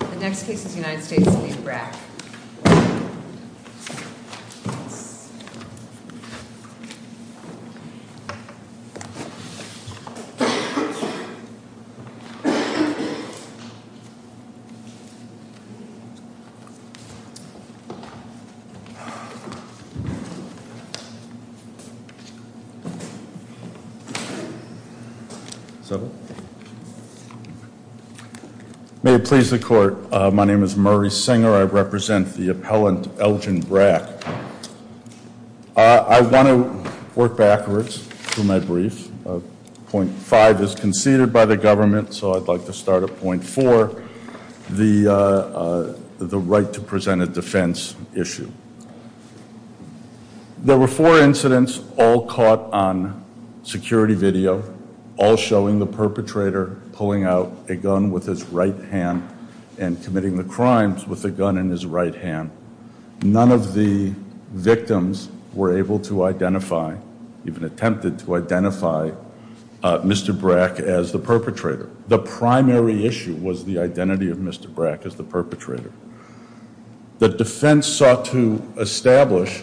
The next case is United States v. Brack. Thank you very much. I'd like to present the appellant Elgin Brack. I want to work backwards through my brief. Point five is conceded by the government, so I'd like to start at point four, the right to present a defense issue. There were four incidents all caught on security video, all showing the perpetrator pulling out a gun with his right hand and committing the crimes with a gun in his right hand. None of the victims were able to identify, even attempted to identify Mr. Brack as the perpetrator. The primary issue was the identity of Mr. Brack as the perpetrator. The defense sought to establish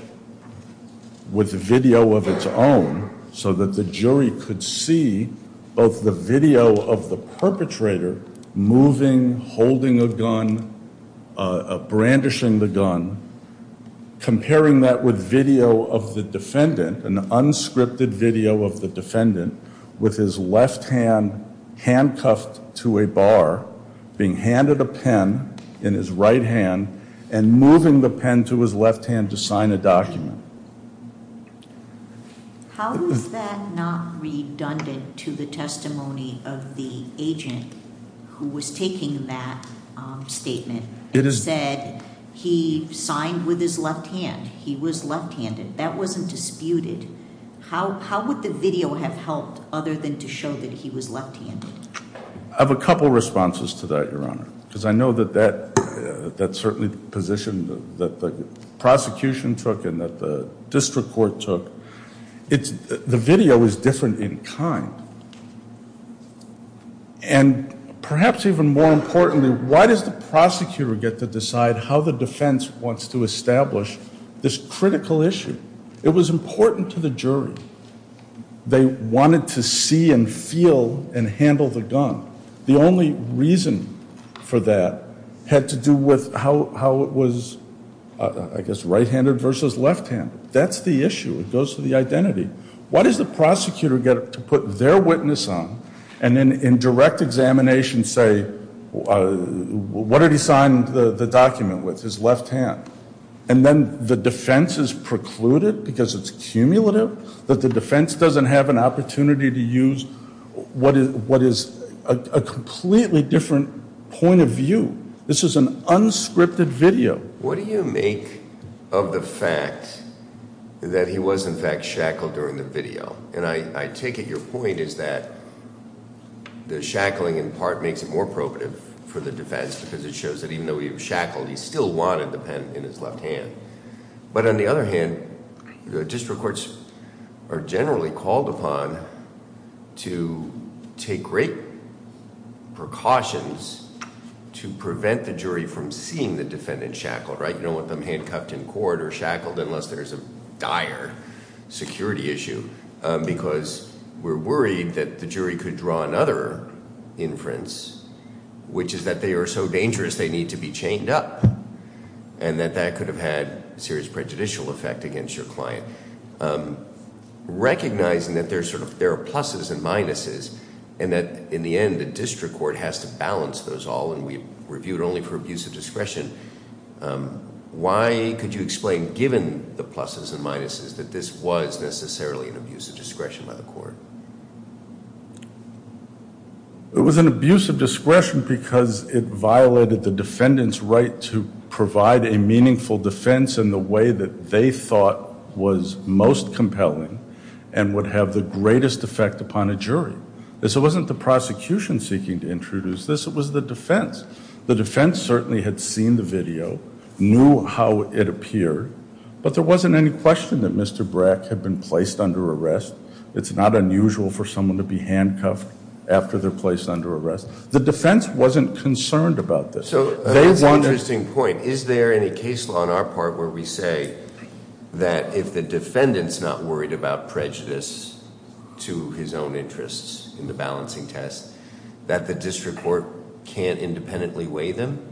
with video of its own so that the jury could see both the video of the perpetrator moving, holding a gun, brandishing the gun, comparing that with video of the defendant, an unscripted video of the defendant with his left hand handcuffed to a bar, being handed a pen in his right hand, and moving the pen to his left hand to sign a document. How is that not redundant to the testimony of the agent who was taking that statement, who said he signed with his left hand, he was left-handed, that wasn't disputed. How would the video have helped other than to show that he was left-handed? I have a couple of responses to that, Your Honor, because I know that that's certainly the position that the prosecution took and that the district court took. The video is different in kind. And perhaps even more importantly, why does the prosecutor get to decide how the defense wants to establish this critical issue? It was important to the jury. They wanted to see and feel and handle the gun. The only reason for that had to do with how it was, I guess, right-handed versus left-handed. That's the issue. It goes to the identity. What does the prosecutor get to put their witness on and then in direct examination say, what did he sign the document with, his left hand? And then the defense is precluded because it's cumulative, that the defense doesn't have an opportunity to use what is a completely different point of view. This is an unscripted video. What do you make of the fact that he was, in fact, shackled during the video? And I take it your point is that the shackling in part makes it more probative for the defense because it shows that even though he was shackled, he still wanted the pen in his left hand. But on the other hand, the district courts are generally called upon to take great precautions to prevent the jury from seeing the defendant shackled, right? You don't want them handcuffed in court or shackled unless there's a dire security issue because we're worried that the jury could draw another inference, which is that they are so dangerous they need to be chained up, and that that could have had serious prejudicial effect against your client. Recognizing that there are pluses and minuses and that, in the end, the district court has to balance those all and we reviewed only for abuse of discretion, why could you explain, given the pluses and minuses, that this was necessarily an abuse of discretion by the court? It was an abuse of discretion because it violated the defendant's right to provide a meaningful defense in the way that they thought was most compelling and would have the greatest effect upon a jury. So it wasn't the prosecution seeking to introduce this, it was the defense. The defense certainly had seen the video, knew how it appeared, but there wasn't any question that Mr. Brack had been placed under arrest. It's not unusual for someone to be handcuffed after they're placed under arrest. The defense wasn't concerned about this. That's an interesting point. Is there any case law on our part where we say that if the defendant's not worried about prejudice to his own interests in the balancing test, that the district court can't independently weigh them?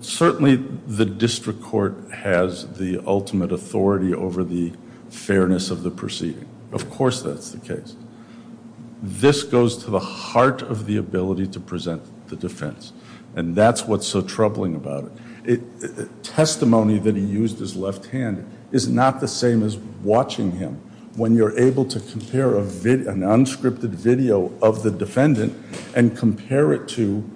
Certainly the district court has the ultimate authority over the fairness of the proceeding. Of course that's the case. This goes to the heart of the ability to present the defense and that's what's so troubling about it. The testimony that he used his left hand is not the same as watching him. When you're able to compare an unscripted video of the defendant and compare it to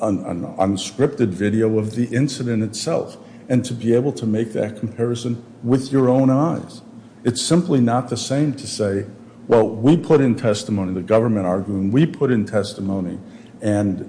an unscripted video of the incident itself and to be able to make that comparison with your own eyes, it's simply not the same to say, well, we put in testimony, the government arguing, we put in testimony and,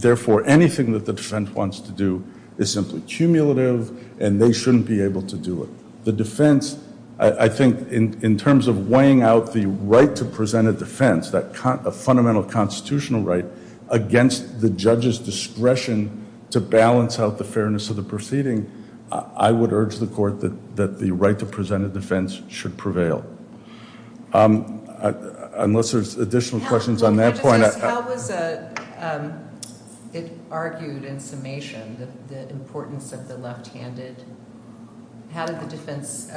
therefore, anything that the defense wants to do is simply cumulative and they shouldn't be able to do it. The defense, I think, in terms of weighing out the right to present a defense, a fundamental constitutional right against the judge's discretion to balance out the fairness of the proceeding, I would urge the court that the right to present a defense should prevail. Unless there's additional questions on that point. How was it argued in summation, the importance of the left-handed? How did the defense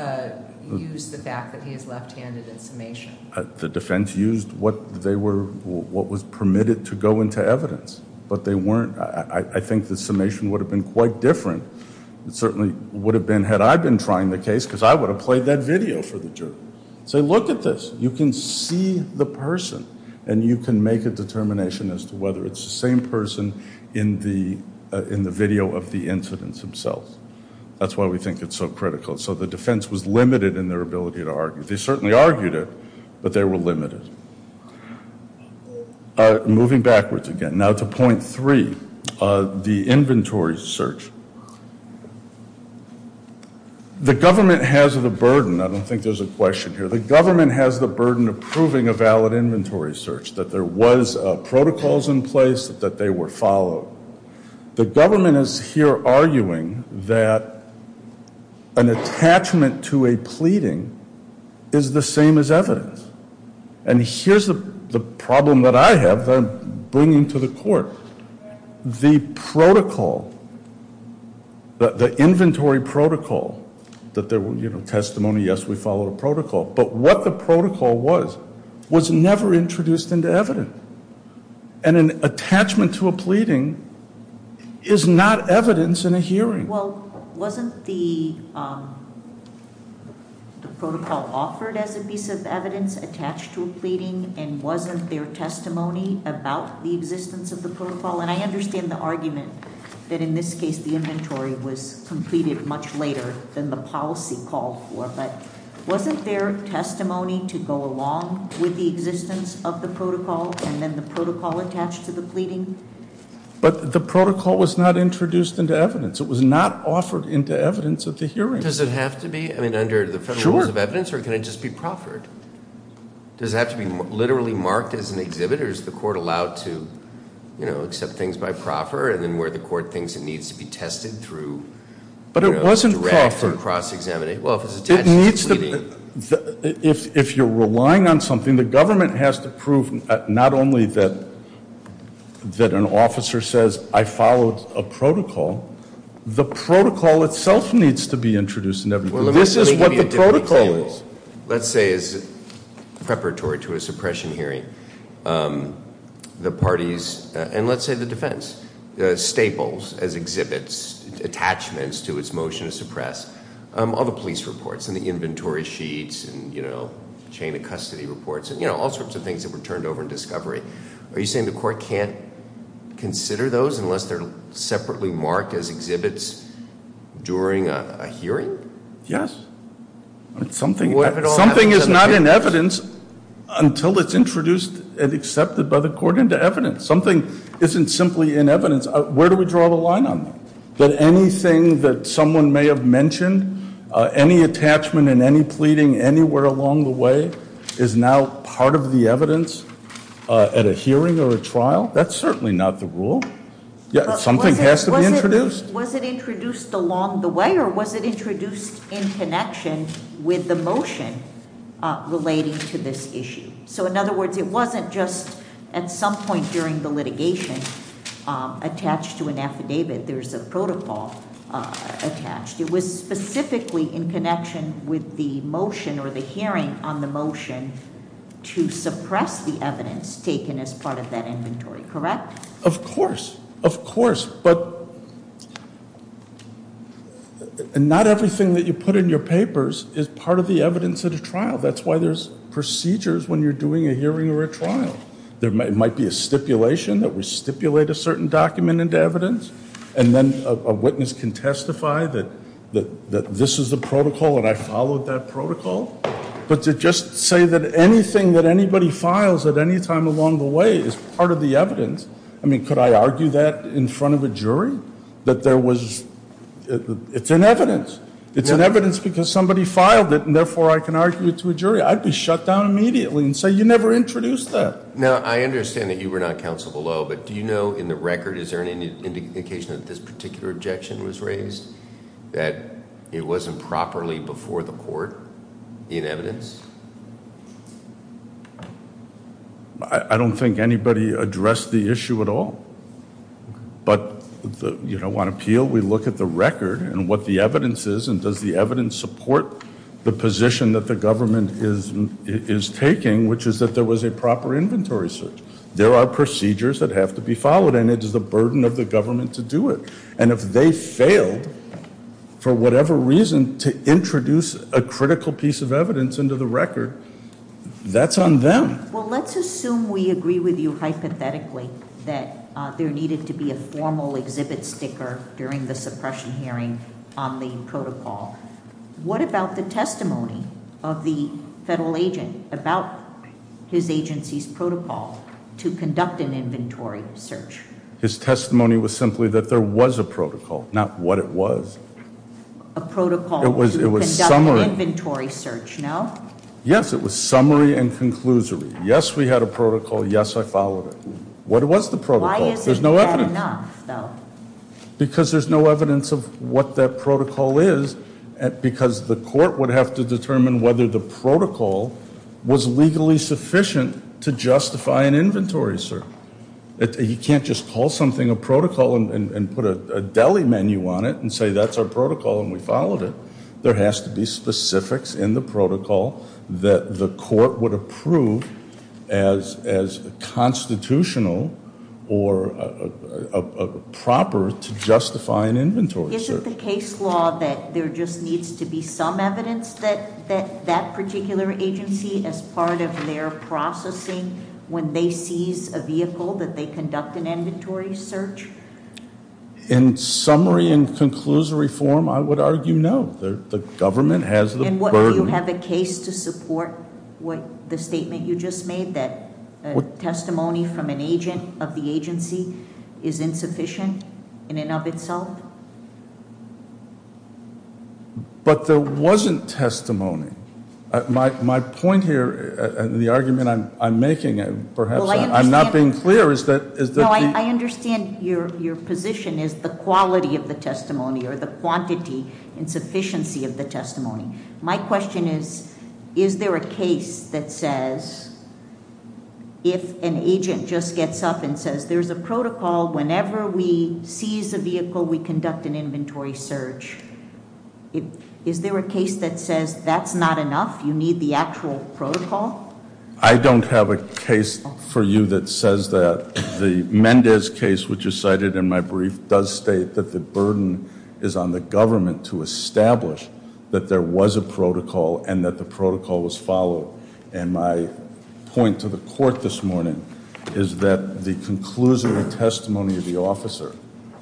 use the fact that he is left-handed in summation? The defense used what was permitted to go into evidence, but they weren't. I think the summation would have been quite different. It certainly would have been had I been trying the case because I would have played that video for the jury. Say, look at this. You can see the person and you can make a determination as to whether it's the same person in the video of the incidents themselves. That's why we think it's so critical. So the defense was limited in their ability to argue. They certainly argued it, but they were limited. Moving backwards again, now to point three, the inventory search. The government has the burden. I don't think there's a question here. The government has the burden of proving a valid inventory search, that there was protocols in place, that they were followed. The government is here arguing that an attachment to a pleading is the same as evidence. And here's the problem that I have that I'm bringing to the court. The protocol, the inventory protocol, that there were testimony, yes, we followed a protocol. But what the protocol was, was never introduced into evidence. And an attachment to a pleading is not evidence in a hearing. Well, wasn't the protocol offered as a piece of evidence attached to a pleading? And wasn't there testimony about the existence of the protocol? And I understand the argument that in this case the inventory was completed much later than the policy called for. But wasn't there testimony to go along with the existence of the protocol and then the protocol attached to the pleading? But the protocol was not introduced into evidence. It was not offered into evidence at the hearing. Does it have to be? I mean, under the federal rules of evidence? Sure. Or can it just be proffered? Does it have to be literally marked as an exhibit? Or is the court allowed to, you know, accept things by proffer? And then where the court thinks it needs to be tested through, you know, direct or cross-examinated? But it wasn't proffered. Well, if it's attached to a pleading. If you're relying on something, the government has to prove not only that an officer says, I followed a protocol, the protocol itself needs to be introduced into evidence. This is what the protocol is. Let's say as preparatory to a suppression hearing, the parties, and let's say the defense, staples as exhibits, attachments to its motion to suppress, all the police reports, and the inventory sheets, and, you know, chain of custody reports, and, you know, all sorts of things that were turned over in discovery. Are you saying the court can't consider those unless they're separately marked as exhibits during a hearing? Yes. Something is not in evidence until it's introduced and accepted by the court into evidence. Something isn't simply in evidence. Where do we draw the line on that? That anything that someone may have mentioned, any attachment and any pleading anywhere along the way, is now part of the evidence at a hearing or a trial? That's certainly not the rule. Something has to be introduced. Was it introduced along the way or was it introduced in connection with the motion relating to this issue? So, in other words, it wasn't just at some point during the litigation attached to an affidavit. There's a protocol attached. It was specifically in connection with the motion or the hearing on the motion to suppress the evidence taken as part of that inventory. Correct? Of course. Of course. But not everything that you put in your papers is part of the evidence at a trial. That's why there's procedures when you're doing a hearing or a trial. There might be a stipulation that we stipulate a certain document into evidence, and then a witness can testify that this is the protocol and I followed that protocol. But to just say that anything that anybody files at any time along the way is part of the evidence, I mean, could I argue that in front of a jury? It's in evidence. It's in evidence because somebody filed it and, therefore, I can argue it to a jury. I'd be shut down immediately and say you never introduced that. Now, I understand that you were not counsel below, but do you know in the record, is there any indication that this particular objection was raised, that it wasn't properly before the court in evidence? I don't think anybody addressed the issue at all. But on appeal, we look at the record and what the evidence is and does the evidence support the position that the government is taking, which is that there was a proper inventory search. There are procedures that have to be followed, and it is the burden of the government to do it. And if they failed, for whatever reason, to introduce a critical piece of evidence into the record, that's on them. Well, let's assume we agree with you hypothetically that there needed to be a formal exhibit sticker during the suppression hearing on the protocol. What about the testimony of the federal agent about his agency's protocol to conduct an inventory search? His testimony was simply that there was a protocol, not what it was. A protocol to conduct an inventory search, no? Yes, it was summary and conclusory. Yes, we had a protocol. Yes, I followed it. What was the protocol? Why is it not enough, though? Because there's no evidence of what that protocol is, because the court would have to determine whether the protocol was legally sufficient to justify an inventory search. You can't just call something a protocol and put a deli menu on it and say that's our protocol and we followed it. There has to be specifics in the protocol that the court would approve as constitutional or proper to justify an inventory search. Is it the case law that there just needs to be some evidence that that particular agency, as part of their processing when they seize a vehicle, that they conduct an inventory search? In summary and conclusory form, I would argue no. The government has the burden. Do you have a case to support the statement you just made that testimony from an agent of the agency is insufficient in and of itself? But there wasn't testimony. My point here and the argument I'm making, perhaps I'm not being clear, is that the- I understand your position is the quality of the testimony or the quantity and sufficiency of the testimony. My question is, is there a case that says if an agent just gets up and says there's a protocol whenever we seize a vehicle we conduct an inventory search. Is there a case that says that's not enough, you need the actual protocol? I don't have a case for you that says that. The Mendez case, which is cited in my brief, does state that the burden is on the government to establish that there was a protocol and that the protocol was followed. And my point to the court this morning is that the conclusory testimony of the officer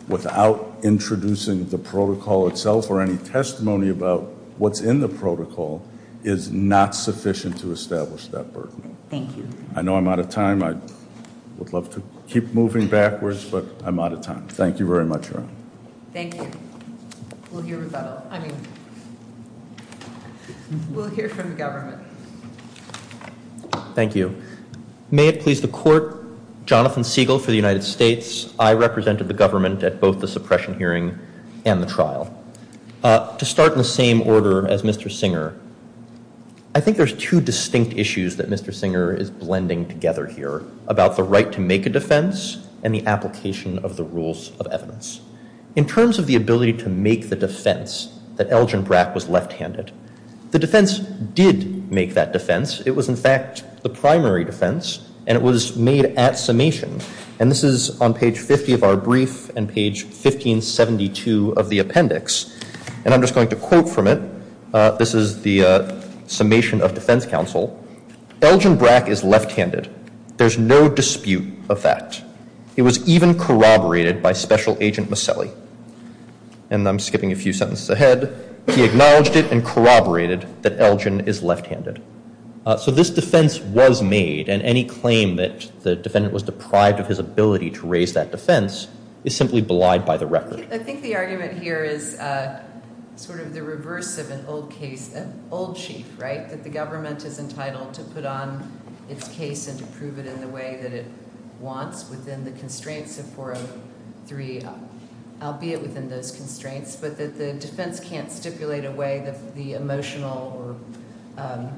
without introducing the protocol itself or any testimony about what's in the protocol is not sufficient to establish that burden. Thank you. I know I'm out of time. I would love to keep moving backwards, but I'm out of time. Thank you very much, Your Honor. Thank you. We'll hear from the government. Thank you. May it please the court, Jonathan Siegel for the United States. I represented the government at both the suppression hearing and the trial. To start in the same order as Mr. Singer, I think there's two distinct issues that Mr. Singer is blending together here about the right to make a defense and the application of the rules of evidence. In terms of the ability to make the defense that Elgin Brack was left-handed, the defense did make that defense. It was, in fact, the primary defense, and it was made at summation. And this is on page 50 of our brief and page 1572 of the appendix. And I'm just going to quote from it. This is the summation of defense counsel. Elgin Brack is left-handed. There's no dispute of that. It was even corroborated by Special Agent Maselli. And I'm skipping a few sentences ahead. He acknowledged it and corroborated that Elgin is left-handed. So this defense was made, and any claim that the defendant was deprived of his ability to raise that defense is simply belied by the record. I think the argument here is sort of the reverse of an old case, an old chief, right, that the government is entitled to put on its case and to prove it in the way that it wants within the constraints of 403, albeit within those constraints, but that the defense can't stipulate away the emotional or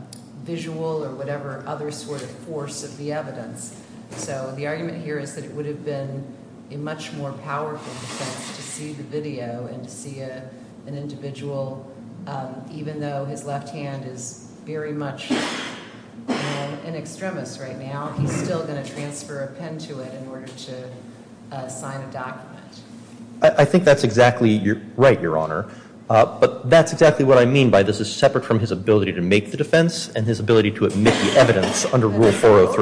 visual or whatever other sort of force of the evidence. So the argument here is that it would have been a much more powerful defense to see the video and to see an individual, even though his left hand is very much an extremist right now, he's still going to transfer a pen to it in order to sign a document. I think that's exactly right, Your Honor. But that's exactly what I mean by this is separate from his ability to make the defense and his ability to admit the evidence under Rule 403.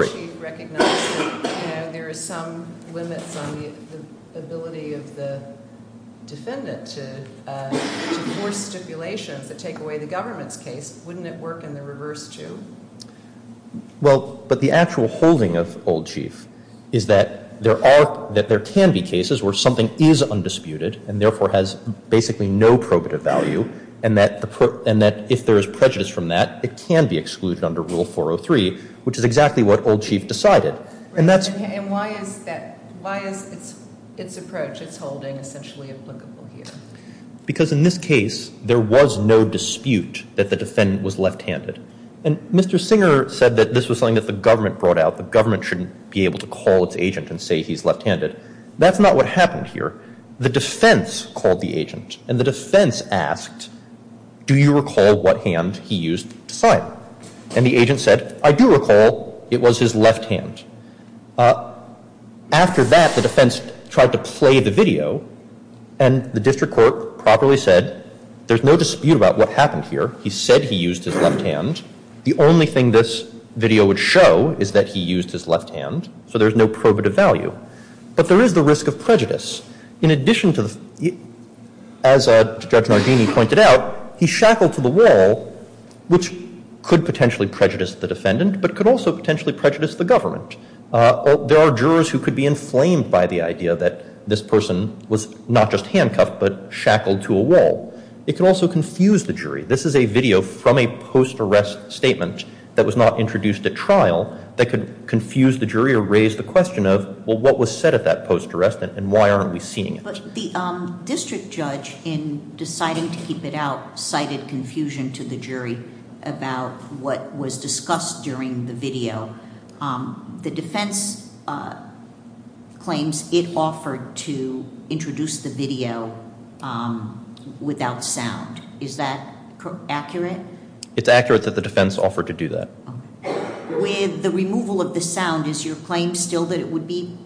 And the old chief recognizes that there are some limits on the ability of the defendant to force stipulations that take away the government's case. Wouldn't it work in the reverse, too? Well, but the actual holding of old chief is that there are, that there can be cases where something is undisputed and therefore has basically no probative value and that if there is prejudice from that, it can be excluded under Rule 403, which is exactly what old chief decided. And why is its approach, its holding, essentially applicable here? Because in this case, there was no dispute that the defendant was left-handed. And Mr. Singer said that this was something that the government brought out. The government shouldn't be able to call its agent and say he's left-handed. That's not what happened here. The defense called the agent, and the defense asked, do you recall what hand he used to sign? And the agent said, I do recall it was his left hand. After that, the defense tried to play the video, and the district court properly said, there's no dispute about what happened here. He said he used his left hand. The only thing this video would show is that he used his left hand, so there's no probative value. But there is the risk of prejudice. In addition to the, as Judge Nardini pointed out, he shackled to the wall, which could potentially prejudice the defendant but could also potentially prejudice the government. There are jurors who could be inflamed by the idea that this person was not just handcuffed but shackled to a wall. It could also confuse the jury. This is a video from a post-arrest statement that was not introduced at trial that could confuse the jury or raise the question of, well, what was said at that post-arrest, and why aren't we seeing it? But the district judge, in deciding to keep it out, cited confusion to the jury about what was discussed during the video. The defense claims it offered to introduce the video without sound. Is that accurate? It's accurate that the defense offered to do that. With the removal of the sound, is your claim still that it would be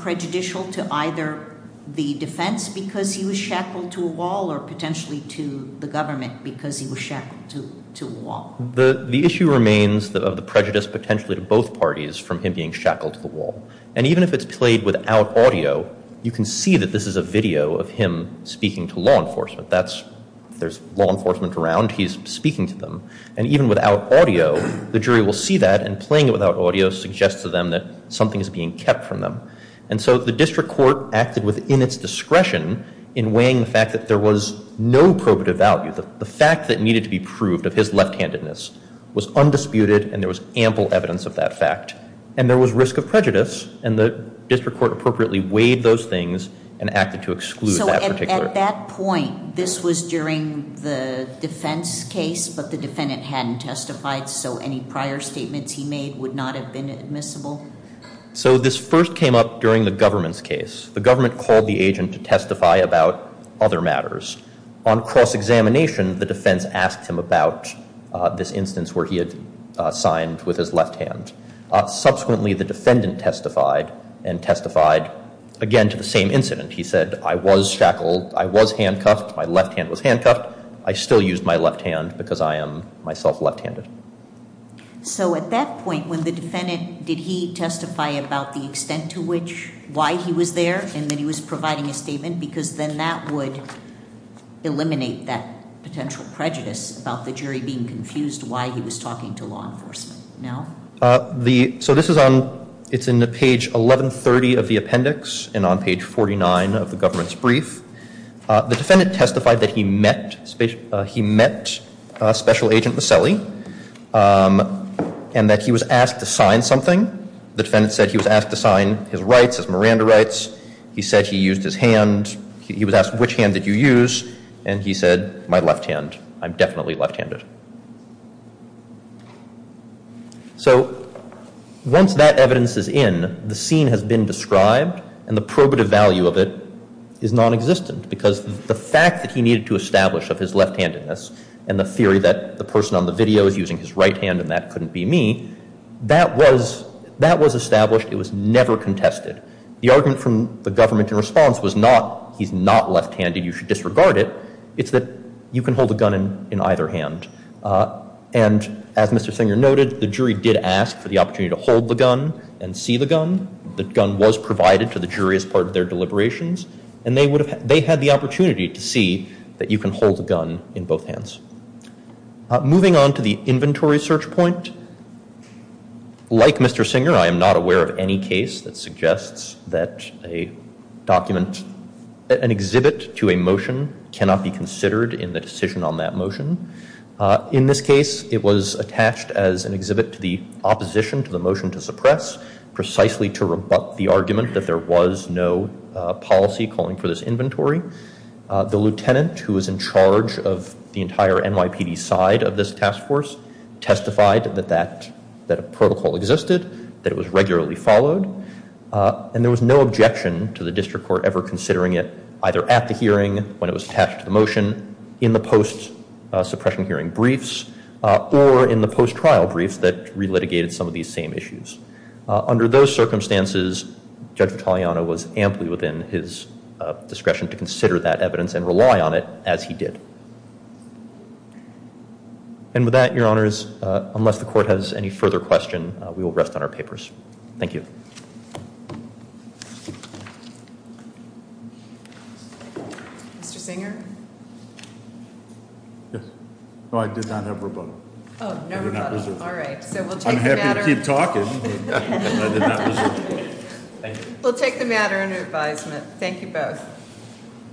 prejudicial to either the defense because he was shackled to a wall or potentially to the government because he was shackled to a wall? The issue remains of the prejudice potentially to both parties from him being shackled to the wall. And even if it's played without audio, you can see that this is a video of him speaking to law enforcement. If there's law enforcement around, he's speaking to them. And even without audio, the jury will see that, and playing it without audio suggests to them that something is being kept from them. And so the district court acted within its discretion in weighing the fact that there was no probative value. The fact that needed to be proved of his left-handedness was undisputed, and there was ample evidence of that fact. And there was risk of prejudice, and the district court appropriately weighed those things and acted to exclude that particular. So at that point, this was during the defense case, but the defendant hadn't testified, so any prior statements he made would not have been admissible? So this first came up during the government's case. The government called the agent to testify about other matters. On cross-examination, the defense asked him about this instance where he had signed with his left hand. Subsequently, the defendant testified, and testified again to the same incident. He said, I was shackled, I was handcuffed, my left hand was handcuffed, I still used my left hand because I am myself left-handed. So at that point, when the defendant, did he testify about the extent to which, why he was there, and that he was providing a statement? Because then that would eliminate that potential prejudice about the jury being confused why he was talking to law enforcement. So this is on, it's in page 1130 of the appendix, and on page 49 of the government's brief. The defendant testified that he met Special Agent Maselli, and that he was asked to sign something. The defendant said he was asked to sign his rights, his Miranda rights. He said he used his hand. He was asked, which hand did you use? And he said, my left hand. He said, yes, I'm definitely left-handed. So once that evidence is in, the scene has been described, and the probative value of it is non-existent. Because the fact that he needed to establish of his left-handedness, and the theory that the person on the video is using his right hand and that couldn't be me, that was established, it was never contested. The argument from the government in response was not, he's not left-handed, you should disregard it. It's that you can hold a gun in either hand. And as Mr. Singer noted, the jury did ask for the opportunity to hold the gun and see the gun. The gun was provided to the jury as part of their deliberations, and they had the opportunity to see that you can hold the gun in both hands. Moving on to the inventory search point, like Mr. Singer, I am not aware of any case that suggests that an exhibit to a motion cannot be considered in the decision on that motion. In this case, it was attached as an exhibit to the opposition to the motion to suppress, precisely to rebut the argument that there was no policy calling for this inventory. The lieutenant who was in charge of the entire NYPD side of this task force testified that a protocol existed, that it was regularly followed, and there was no objection to the district court ever considering it either at the hearing, when it was attached to the motion, in the post-suppression hearing briefs, or in the post-trial briefs that re-litigated some of these same issues. Under those circumstances, Judge Vitaliano was amply within his discretion to consider that evidence and rely on it, as he did. And with that, your honors, unless the court has any further questions, we will rest on our papers. Thank you. Mr. Singer? Yes. No, I did not have rebuttal. Oh, no rebuttal. All right. I'm happy to keep talking, but I did not reserve it. We'll take the matter under advisement. Thank you both.